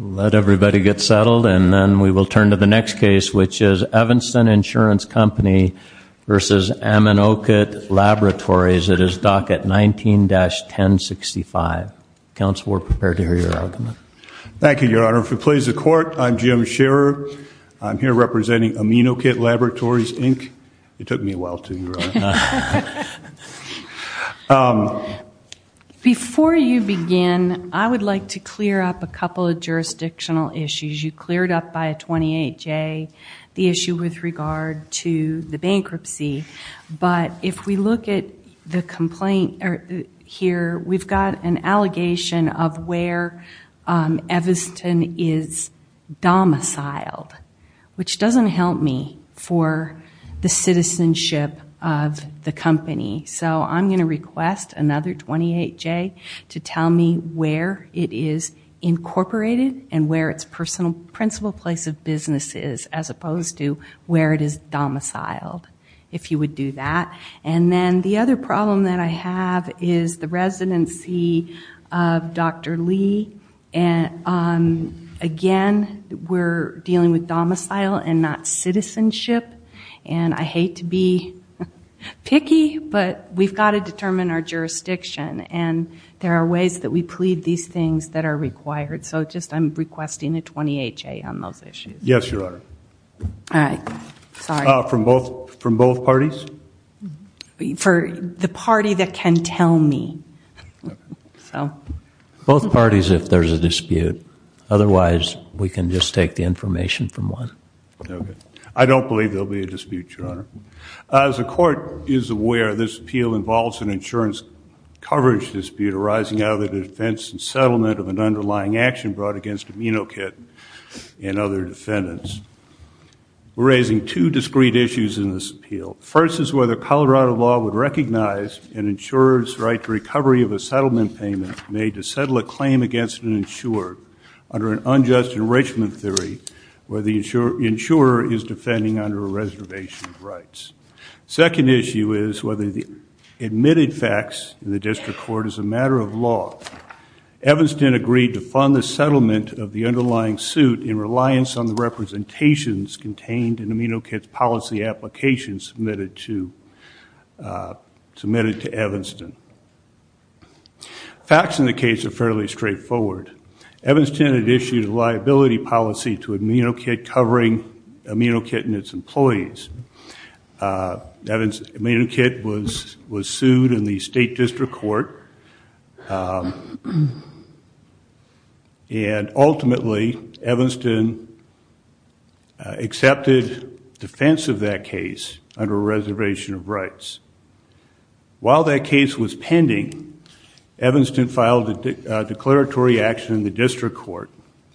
Let everybody get settled, and then we will turn to the next case, which is Evanston Insurance Company v. Aminokit Laboratories. It is docket 19-1065. Counsel, we're prepared to hear your argument. Thank you, Your Honor. For the pleas of the Court, I'm Jim Scherer. I'm here representing Aminokit Laboratories, Inc. It took me a while to get here. Before you begin, I would like to clear up a couple of jurisdictional issues. You cleared up by a 28-J, the issue with regard to the bankruptcy, but if we look at the complaint here, we've got an citizenship of the company. So I'm going to request another 28-J to tell me where it is incorporated and where its principal place of business is, as opposed to where it is domiciled, if you would do that. And then the other problem that I have is the residency of Dr. Lee. And again, we're dealing with domicile and not citizenship. And I hate to be picky, but we've got to determine our jurisdiction. And there are ways that we plead these things that are required. So just I'm requesting a 28-J on those issues. Yes, Your Honor. All right. From both parties? For the party that can tell me. Both parties, if there's a I don't believe there'll be a dispute, Your Honor. As the court is aware, this appeal involves an insurance coverage dispute arising out of the defense and settlement of an underlying action brought against AminoKit and other defendants. We're raising two discrete issues in this appeal. First is whether Colorado law would recognize an insurer's right to recovery of a settlement payment made to settle a claim against an insured under an unjust enrichment theory where the insurer is defending under a reservation of rights. Second issue is whether the admitted facts in the district court is a matter of law. Evanston agreed to fund the settlement of the underlying suit in reliance on the representations contained in AminoKit's policy application submitted to Evanston. Facts in the case are fairly straightforward. Evanston had issued a liability policy to AminoKit covering AminoKit and its employees. AminoKit was was sued in the state district court and ultimately Evanston accepted defense of that case under a pending, Evanston filed a declaratory action in the district court,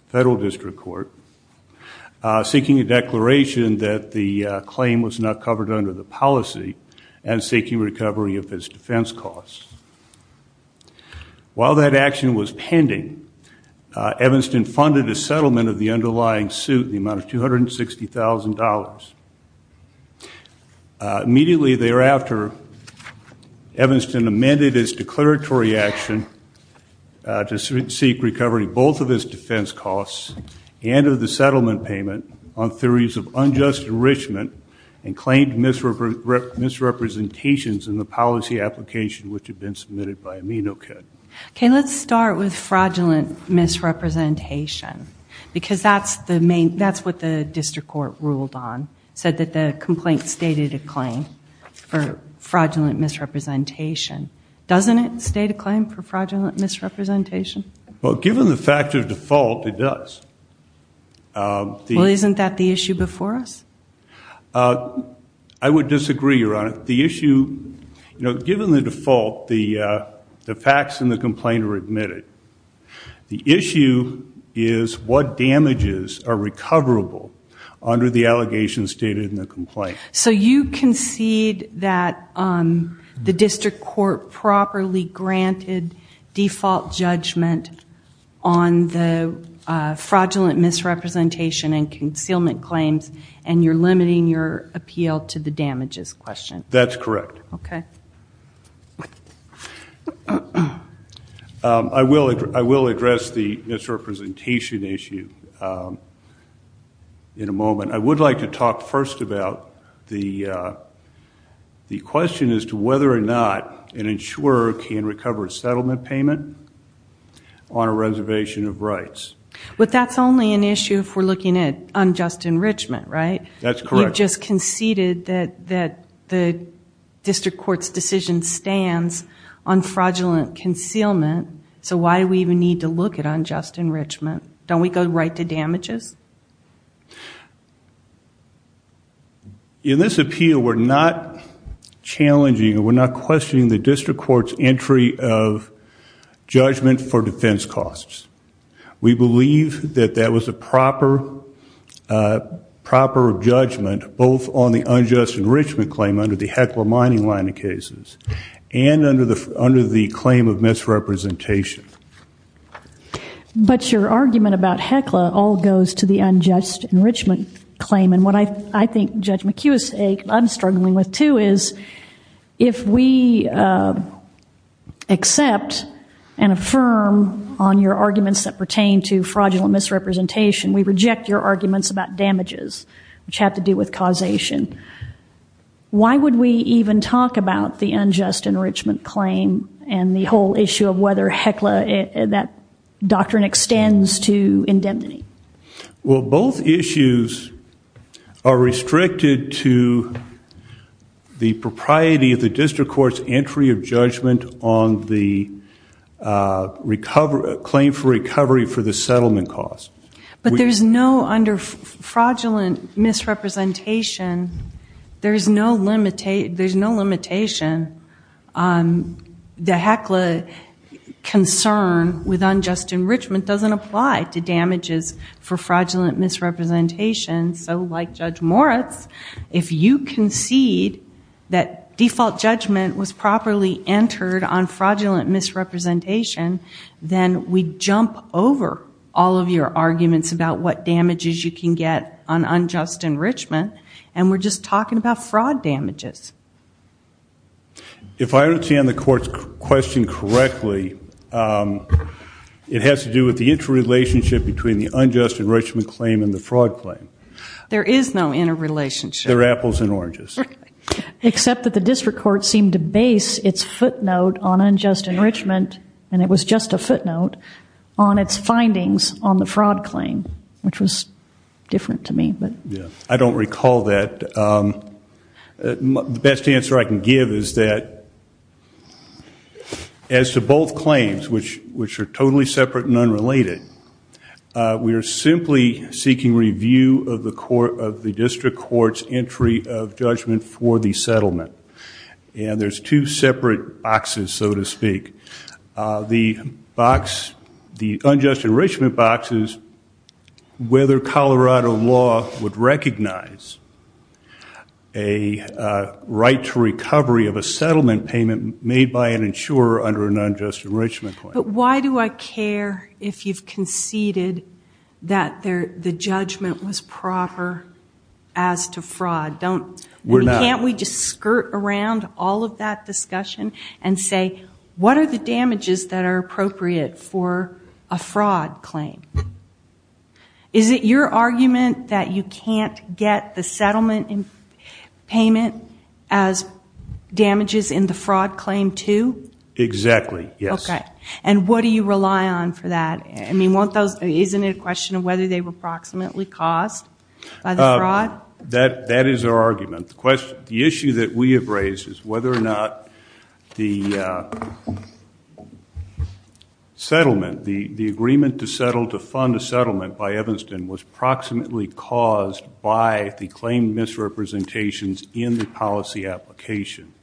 federal district court, seeking a declaration that the claim was not covered under the policy and seeking recovery of his defense costs. While that action was pending, Evanston funded a settlement of the underlying suit the amount of $160,000. Immediately thereafter, Evanston amended his declaratory action to seek recovery both of his defense costs and of the settlement payment on theories of unjust enrichment and claimed misrepresentations in the policy application which had been submitted by AminoKit. Okay let's start with fraudulent misrepresentation because that's the main, that's what the district court ruled on, said that the complaint stated a claim for fraudulent misrepresentation. Doesn't it state a claim for fraudulent misrepresentation? Well given the fact of default, it does. Well isn't that the issue before us? I would disagree, Your Honor. The issue, you know, given the default, the facts in the under the allegation stated in the complaint. So you concede that the district court properly granted default judgment on the fraudulent misrepresentation and concealment claims and you're limiting your appeal to the damages question? That's correct. Okay. I will, I will address the misrepresentation issue in a moment. I would like to talk first about the question as to whether or not an insurer can recover a settlement payment on a reservation of rights. But that's only an issue if we're looking at unjust enrichment, right? That's correct. You've just conceded that the district court's decision stands on fraudulent concealment, so why do we even need to unjust enrichment? Don't we go right to damages? In this appeal, we're not challenging, we're not questioning the district court's entry of judgment for defense costs. We believe that that was a proper, proper judgment both on the unjust enrichment claim under the Heckler-Meininger line of cases and under the claim of misrepresentation. But your argument about Heckler all goes to the unjust enrichment claim and what I think Judge McHugh is struggling with too is if we accept and affirm on your arguments that pertain to fraudulent misrepresentation, we reject your arguments about damages which have to do with causation. Why would we even talk about the unjust enrichment claim and the whole issue of whether Heckler, that doctrine extends to indemnity? Well, both issues are restricted to the propriety of the district court's entry of judgment on the claim for recovery for the settlement cost. But there's no under fraudulent misrepresentation, there's no limitation on the Heckler concern with unjust enrichment doesn't apply to damages for fraudulent misrepresentation. So like Judge Moritz, if you concede that default judgment was properly entered on fraudulent misrepresentation, then we jump over all your arguments about what damages you can get on unjust enrichment and we're just talking about fraud damages. If I understand the court's question correctly, it has to do with the interrelationship between the unjust enrichment claim and the fraud claim. There is no interrelationship. There are apples and oranges. Except that the district court seemed to base its footnote on the fraud claim, which was different to me. I don't recall that. The best answer I can give is that as to both claims, which are totally separate and unrelated, we are simply seeking review of the court of the district court's entry of judgment for the settlement. And there's two separate boxes, whether Colorado law would recognize a right to recovery of a settlement payment made by an insurer under an unjust enrichment claim. But why do I care if you've conceded that the judgment was proper as to fraud? Can't we just skirt around all of that discussion and say what are the damages that are Is it your argument that you can't get the settlement payment as damages in the fraud claim too? Exactly, yes. Okay, and what do you rely on for that? I mean won't those, isn't it a question of whether they were approximately caused by the fraud? That is our argument. The issue that we have raised is whether or not the settlement, the agreement to settle to fund a settlement by Evanston was approximately caused by the claim misrepresentations in the policy application.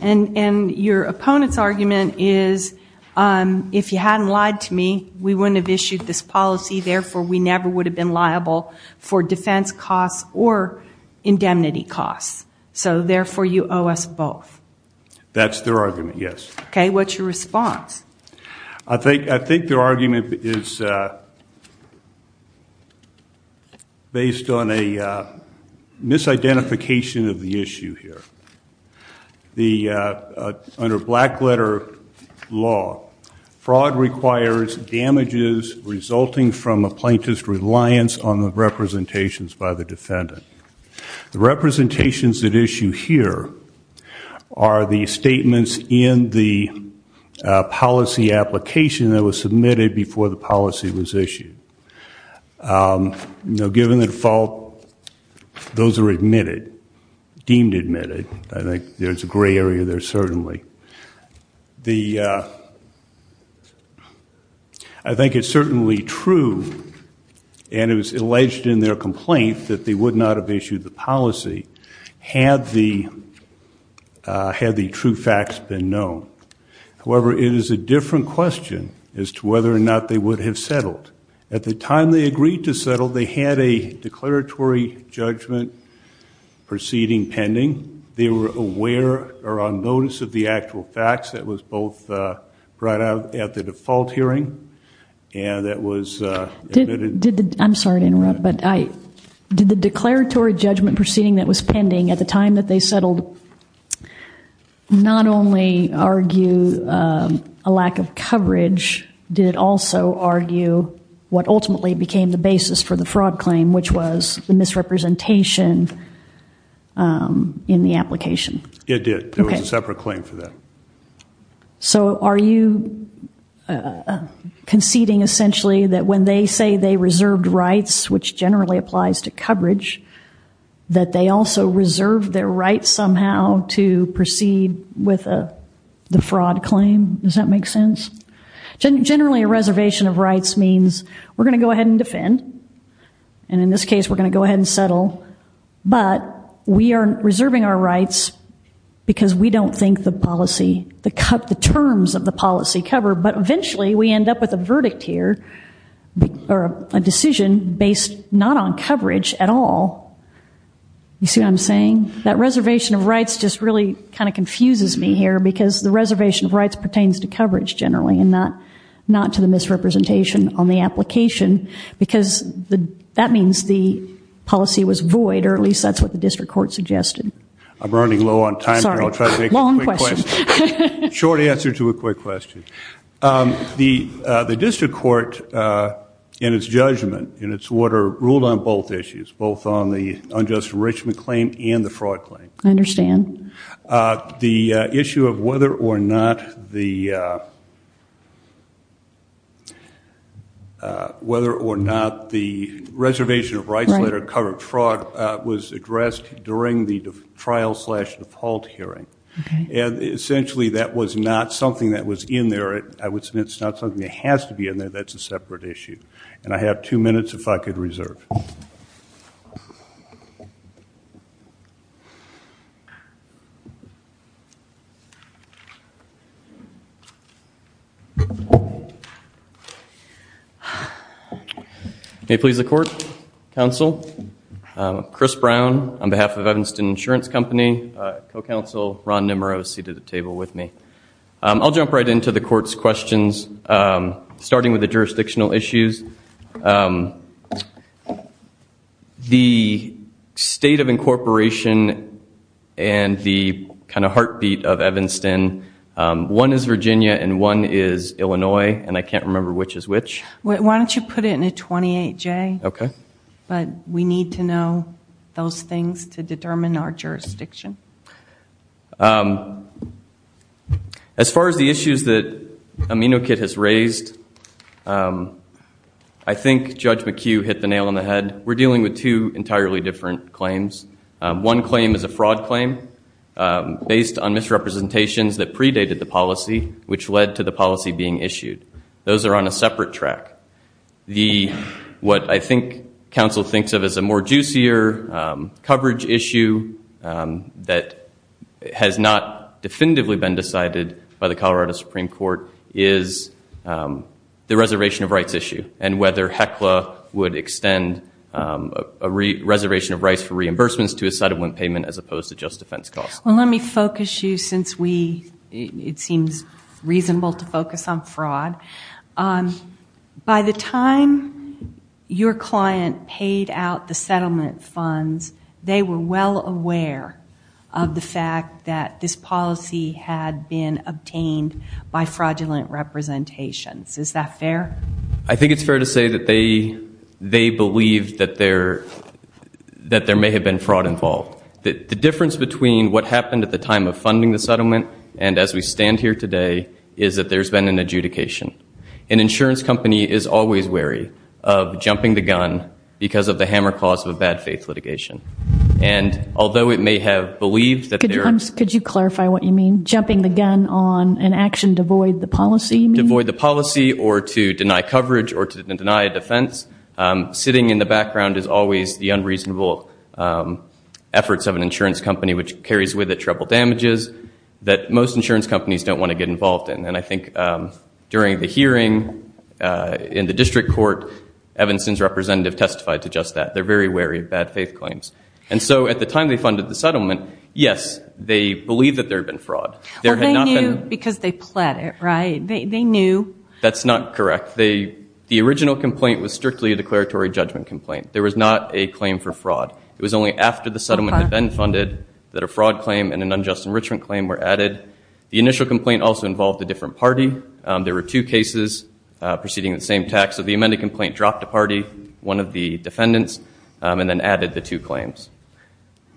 And your opponent's argument is if you hadn't lied to me, we wouldn't have issued this policy, therefore we never would have been That's their argument, yes. Okay, what's your response? I think their argument is based on a misidentification of the issue here. Under black letter law, fraud requires damages resulting from a plaintiff's reliance on the representations by the defendant. The representations at issue here are the statements in the policy application that was submitted before the policy was issued. Now given the default, those are admitted, deemed admitted. I think there's a gray area there certainly. I think it's certainly true and it was alleged in their complaint that they would not have issued the policy had the true facts been known. However, it is a different question as to whether or not they would have settled. At the time they agreed to settle, they had a declaratory judgment proceeding pending. They were aware or on notice of the actual facts that was both brought out at the default hearing and that was I'm sorry to interrupt, but I did the declaratory judgment proceeding that was not only argue a lack of coverage, did it also argue what ultimately became the basis for the fraud claim, which was the misrepresentation in the application? It did. There was a separate claim for that. So are you conceding essentially that when they say they reserved rights, which generally applies to coverage, that they also reserve their rights somehow to proceed with the fraud claim? Does that make sense? Generally a reservation of rights means we're gonna go ahead and defend and in this case we're gonna go ahead and settle, but we are reserving our rights because we don't think the policy, the terms of the policy cover, but eventually we end up with a verdict here or a decision based not on See what I'm saying? That reservation of rights just really kind of confuses me here because the reservation of rights pertains to coverage generally and not not to the misrepresentation on the application because that means the policy was void or at least that's what the district court suggested. I'm running low on time. Short answer to a quick question. The district court in its judgment in its order ruled on both issues, both on the unjust enrichment claim and the fraud claim. I understand. The issue of whether or not the reservation of rights later covered fraud was addressed during the trial slash default hearing and essentially that was not something that was in there. I would say it's not something that has to be in there. That's a separate issue and I have two minutes if I could reserve. May it please the court, counsel. Chris Brown on behalf of Evanston Insurance Company, co-counsel Ron Nimero seated at the table with me. I'll jump right into the court's questions starting with the jurisdictional issues. The state of incorporation and the kind of heartbeat of Evanston, one is Virginia and one is Illinois and I can't remember which is which. Why don't you put it in a 28-J? Okay. But we need to know those things to determine our jurisdiction. As far as the amino kit has raised, I think Judge McHugh hit the nail on the head. We're dealing with two entirely different claims. One claim is a fraud claim based on misrepresentations that predated the policy which led to the policy being issued. Those are on a separate track. What I think counsel thinks of as a more juicier coverage issue that has not definitively been decided by the court is the reservation of rights issue and whether HECLA would extend a reservation of rights for reimbursements to a settlement payment as opposed to just defense costs. Well let me focus you since we, it seems reasonable to focus on fraud. By the time your client paid out the settlement funds, they were well aware of the fact that this policy had been obtained by fraudulent representations. Is that fair? I think it's fair to say that they, they believe that there, that there may have been fraud involved. The difference between what happened at the time of funding the settlement and as we stand here today is that there's been an adjudication. An insurance company is always wary of jumping the gun because of the hammer cause of a bad-faith litigation and although it may have believed that there... Could you clarify what you mean? Jumping the gun on an action to void the policy? To void the policy or to deny coverage or to deny a defense. Sitting in the background is always the unreasonable efforts of an insurance company which carries with it treble damages that most insurance companies don't want to get involved in and I think during the hearing in the district court, Evanston's representative testified to just that. They're very wary of bad-faith claims and so at the time they funded the settlement, yes, they believed that there had been fraud. There had not been... Well, they knew because they pled it, right? They knew. That's not correct. They, the original complaint was strictly a declaratory judgment complaint. There was not a claim for fraud. It was only after the settlement had been funded that a fraud claim and an unjust enrichment claim were added. The initial complaint also involved a different party. There were two cases preceding the same tax so the amended complaint dropped a party, one of the two claims.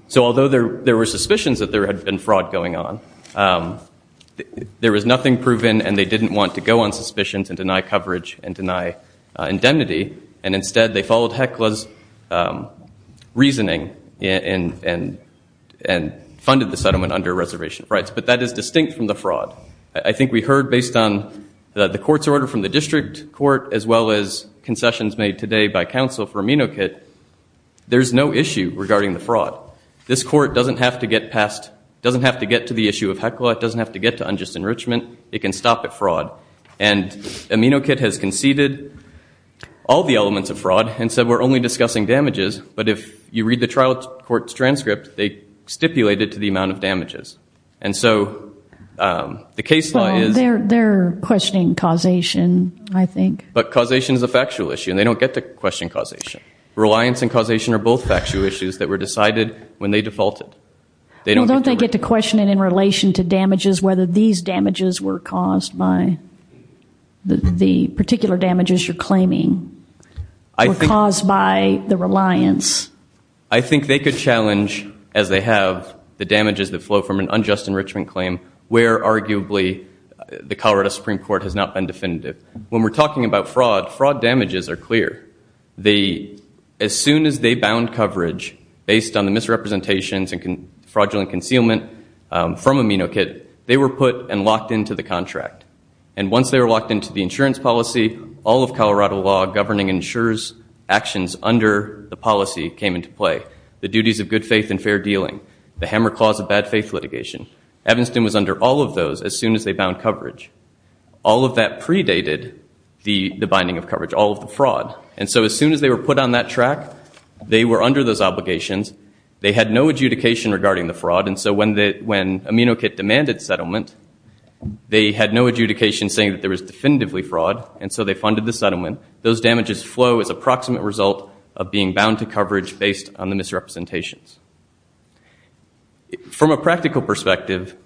So although there were suspicions that there had been fraud going on, there was nothing proven and they didn't want to go on suspicions and deny coverage and deny indemnity and instead they followed Hecla's reasoning and funded the settlement under reservation rights but that is distinct from the fraud. I think we heard based on the court's order from the district court as well as concessions made today by counsel for AminoKit there's no issue regarding the fraud. This court doesn't have to get past, doesn't have to get to the issue of Hecla. It doesn't have to get to unjust enrichment. It can stop at fraud and AminoKit has conceded all the elements of fraud and said we're only discussing damages but if you read the trial court's transcript, they stipulated to the amount of damages and so the case law is... They're questioning causation, I think. But causation is a factual issue and they don't get to question causation. Reliance and causation are both factual issues that were decided when they defaulted. They don't get to question it in relation to damages whether these damages were caused by the particular damages you're claiming were caused by the reliance. I think they could challenge as they have the damages that flow from an unjust enrichment claim where arguably the Colorado Supreme Court has not been definitive. When we're talking about fraud damages are clear. As soon as they bound coverage based on the misrepresentations and fraudulent concealment from AminoKit, they were put and locked into the contract. And once they were locked into the insurance policy, all of Colorado law governing insurers actions under the policy came into play. The duties of good faith and fair dealing, the hammer clause of bad faith litigation. Evanston was under all of those as soon as they bound coverage. All of that predated the binding of coverage, all of the fraud. And so as soon as they were put on that track, they were under those obligations. They had no adjudication regarding the fraud and so when AminoKit demanded settlement, they had no adjudication saying that there was definitively fraud and so they funded the settlement. Those damages flow as approximate result of being bound to coverage based on the misrepresentations. From a practical perspective,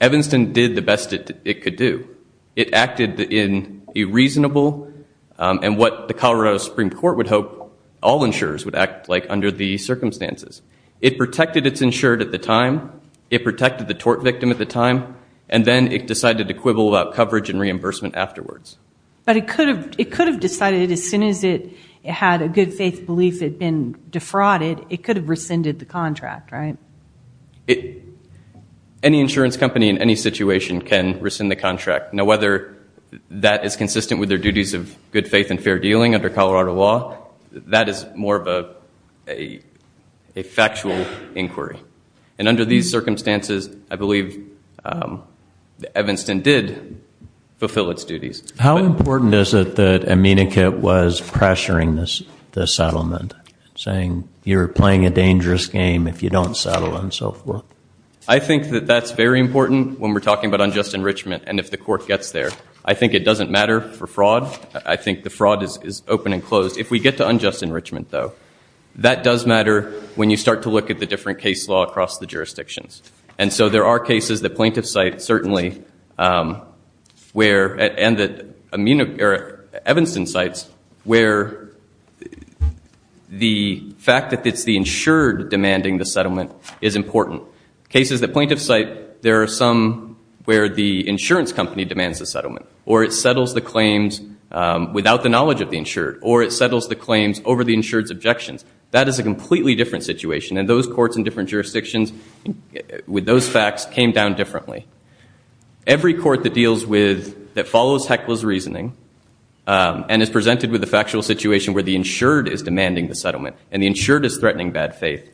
Evanston did the best it could do. It acted in a reasonable and what the Colorado Supreme Court would hope all insurers would act like under the circumstances. It protected its insured at the time, it protected the tort victim at the time, and then it decided to quibble about coverage and reimbursement afterwards. But it could have it could have decided as soon as it had a good faith belief had been defrauded, it could have rescinded the contract. Any insurance company in any situation can rescind the contract. Now whether that is consistent with their duties of good faith and fair dealing under Colorado law, that is more of a factual inquiry. And under these circumstances, I believe Evanston did fulfill its duties. How important is it that AminoKit was pressuring this settlement, saying you're playing a I think that that's very important when we're talking about unjust enrichment and if the court gets there. I think it doesn't matter for fraud. I think the fraud is open and closed. If we get to unjust enrichment though, that does matter when you start to look at the different case law across the jurisdictions. And so there are cases that plaintiffs cite certainly, where and that Evanston cites, where the fact that it's the insured demanding the settlement is important. Cases that plaintiffs cite, there are some where the insurance company demands the settlement or it settles the claims without the knowledge of the insured or it settles the claims over the insured's objections. That is a completely different situation and those courts in different jurisdictions with those facts came down differently. Every court that deals with that follows heckler's reasoning and is presented with a factual situation where the insured is demanding the settlement and the insured is threatening bad faith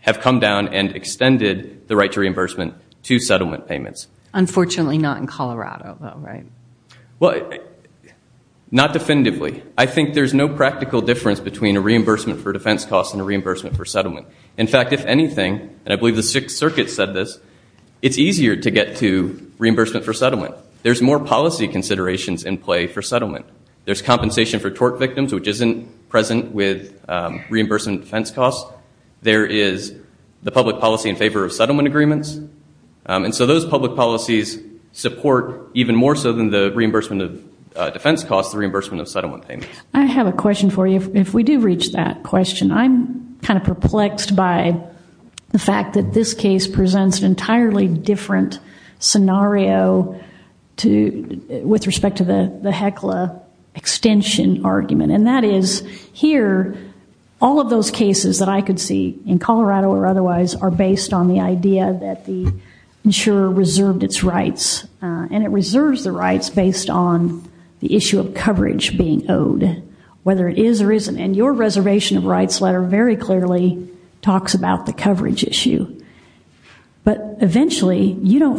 have come down and extended the right to reimbursement to settlement payments. Unfortunately not in Colorado though, right? Well, not definitively. I think there's no practical difference between a reimbursement for defense costs and a reimbursement for settlement. In fact, if anything, and I believe the Sixth Circuit said this, it's easier to get to reimbursement for settlement. There's more policy considerations in play for settlement. There's compensation for reimbursement defense costs. There is the public policy in favor of settlement agreements. And so those public policies support even more so than the reimbursement of defense costs, the reimbursement of settlement payments. I have a question for you. If we do reach that question, I'm kind of perplexed by the fact that this case presents an entirely different scenario with respect to the heckler extension argument. And that is here all of those cases that I could see in Colorado or otherwise are based on the idea that the insurer reserved its rights. And it reserves the rights based on the issue of coverage being owed. Whether it is or isn't. And your reservation of rights letter very clearly talks about the coverage issue. But eventually you don't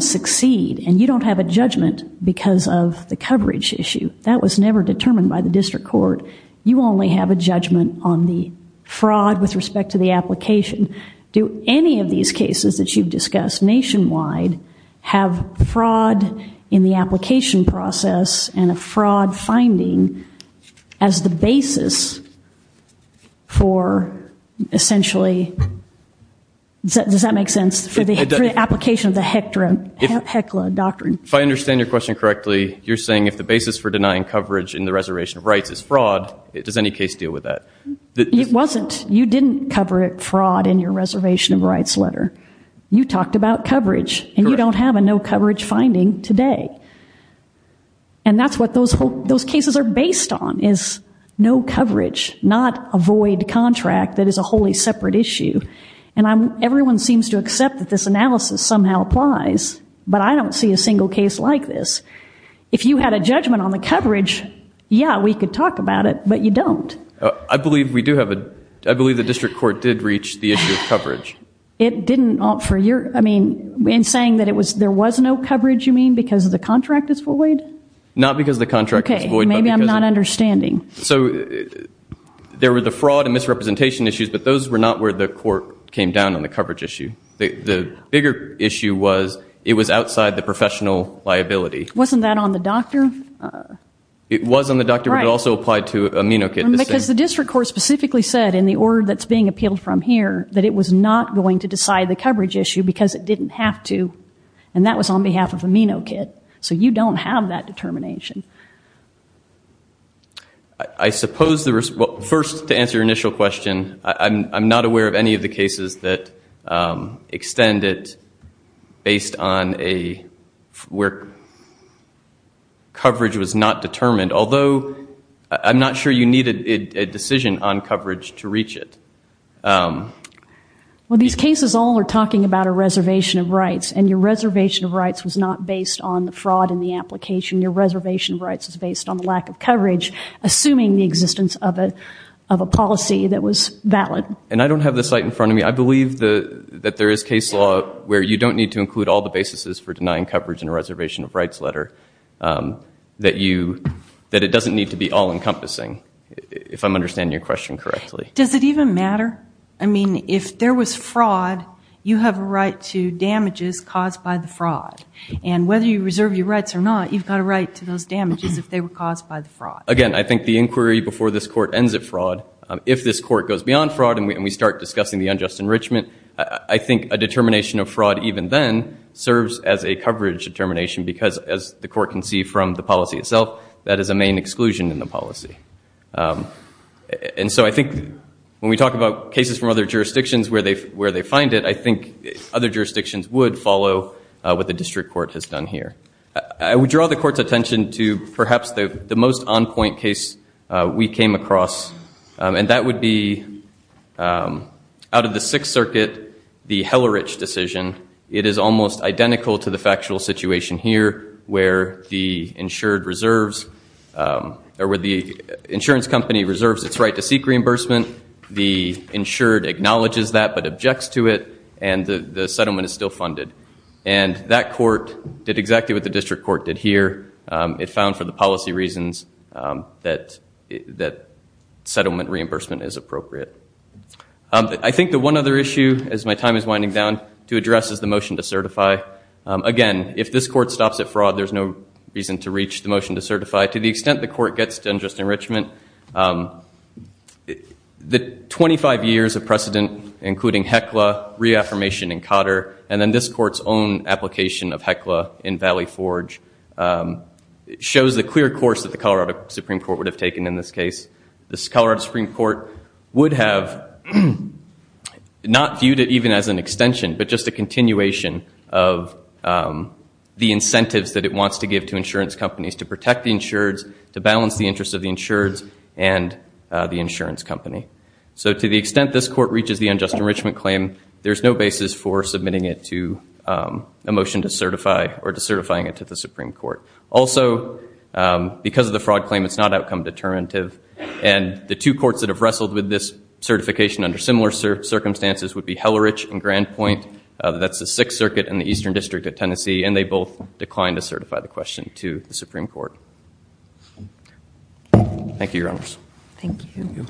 have a judgment because of the coverage issue. That was never determined by the district court. You only have a judgment on the fraud with respect to the application. Do any of these cases that you've discussed nationwide have fraud in the application process and a fraud finding as the basis for essentially, does that make sense, for the application of the heckler doctrine? If I understand your question correctly, you're saying if the basis for denying coverage in the reservation of rights is fraud, does any case deal with that? It wasn't. You didn't cover it fraud in your reservation of rights letter. You talked about coverage and you don't have a no coverage finding today. And that's what those cases are based on is no coverage, not a void contract that is a totally separate issue. And everyone seems to accept that this analysis somehow applies, but I don't see a single case like this. If you had a judgment on the coverage, yeah, we could talk about it, but you don't. I believe we do have a, I believe the district court did reach the issue of coverage. It didn't for your, I mean, in saying that it was, there was no coverage you mean because the contract is void? Not because the contract is void. Okay, maybe I'm not understanding. So there were the fraud and misrepresentation issues, but those were not where the court came down on the coverage issue. The bigger issue was it was outside the professional liability. Wasn't that on the doctor? It was on the doctor, but it also applied to Aminokit. Because the district court specifically said in the order that's being appealed from here that it was not going to decide the coverage issue because it didn't have to. And that was on behalf of Aminokit. So you don't have that determination. I suppose there was, well first to answer your initial question, I'm not aware of any of the cases that extend it based on a, where coverage was not determined. Although I'm not sure you needed a decision on coverage to reach it. Well these cases all are talking about a reservation of rights and your reservation of rights was not based on the fraud in the application. Your reservation of rights is based on the lack of coverage. Assuming the existence of a policy that was valid. And I don't have the site in front of me. I believe that there is case law where you don't need to include all the basis for denying coverage in a reservation of rights letter. That you, that it doesn't need to be all encompassing. If I'm understanding your question correctly. Does it even matter? I mean if there was fraud, you have a right to damages caused by the fraud. And whether you reserve your rights or not, you've got a right to those damages if they were caused by the fraud. Again I think the inquiry before this court ends at fraud, if this court goes beyond fraud and we start discussing the unjust enrichment, I think a determination of fraud even then serves as a coverage determination. Because as the court can see from the policy itself, that is a main exclusion in the policy. And so I think when we talk about cases from other jurisdictions where they, where they find it, I think other jurisdictions would follow what the district court has done here. I would draw the court's attention to perhaps the most on-point case we came across. And that would be out of the Sixth Circuit, the Hellerich decision. It is almost identical to the factual situation here where the insured reserves, or where the insurance company reserves its right to seek reimbursement. The insured acknowledges that but refunded. And that court did exactly what the district court did here. It found for the policy reasons that, that settlement reimbursement is appropriate. I think the one other issue, as my time is winding down, to address is the motion to certify. Again, if this court stops at fraud there's no reason to reach the motion to certify. To the extent the court gets to unjust enrichment, the 25 years of this court's own application of HECLA in Valley Forge shows the clear course that the Colorado Supreme Court would have taken in this case. This Colorado Supreme Court would have not viewed it even as an extension, but just a continuation of the incentives that it wants to give to insurance companies to protect the insureds, to balance the interests of the insureds, and the insurance company. So to the extent this court reaches the unjust enrichment claim, there's no basis for submitting it to a motion to certify, or to certifying it to the Supreme Court. Also, because of the fraud claim, it's not outcome determinative. And the two courts that have wrestled with this certification under similar circumstances would be Hellerich and Grandpoint. That's the Sixth Circuit in the Eastern District of Tennessee, and they both declined to certify the question to the Supreme Court. Thank you, Your Honors. Thank you.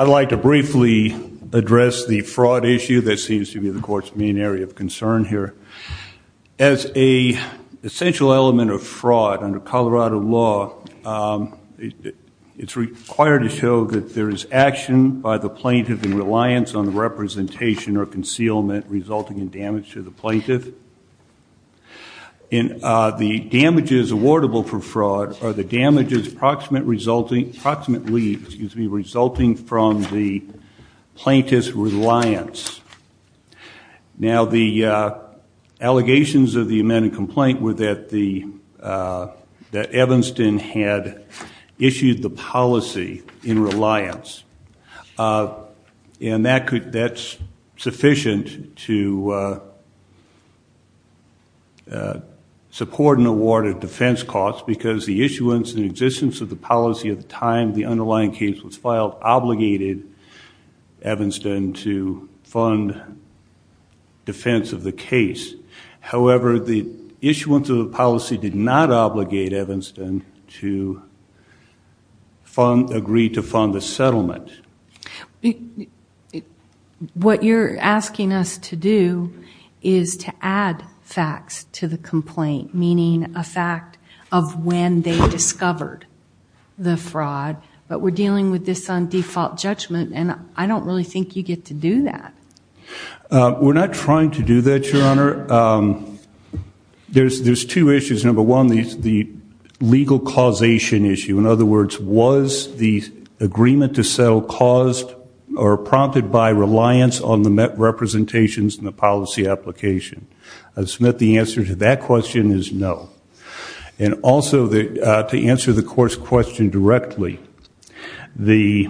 I'd like to briefly address the fraud issue that seems to be the court's main area of concern here. As a essential element of fraud under Colorado law, it's required to show that there is action by the plaintiff in reliance on the representation or concealment resulting in damage to the property. The damages awardable for fraud are the damages resulting from the plaintiff's reliance. Now, the allegations of the amended complaint were that Evanston had issued the policy in support and award of defense costs because the issuance and existence of the policy at the time the underlying case was filed obligated Evanston to fund defense of the case. However, the issuance of the policy did not obligate Evanston to agree to fund the settlement. What you're asking us to do is to add facts to the complaint, meaning a fact of when they discovered the fraud, but we're dealing with this on default judgment, and I don't really think you get to do that. We're not trying to do that, Your Honor. There's two issues. Number one, the legal causation issue. In other words, was the agreement to settle caused or prompted by reliance on the met representations in the policy application? I submit the answer to that question is no. And also to answer the court's question directly, the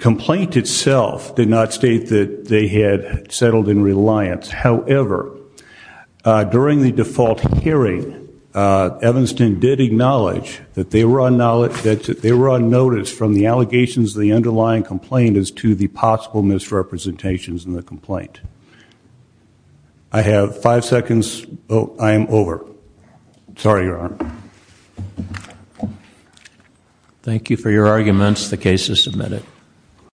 complaint itself did not state that they had settled in reliance. However, during the default hearing, Evanston did acknowledge that they were on notice from the allegations of the underlying complaint as to the possible misrepresentations in the complaint. I have five seconds. Oh, I am over. Sorry, Your Honor. Thank you for your arguments. The case is submitted.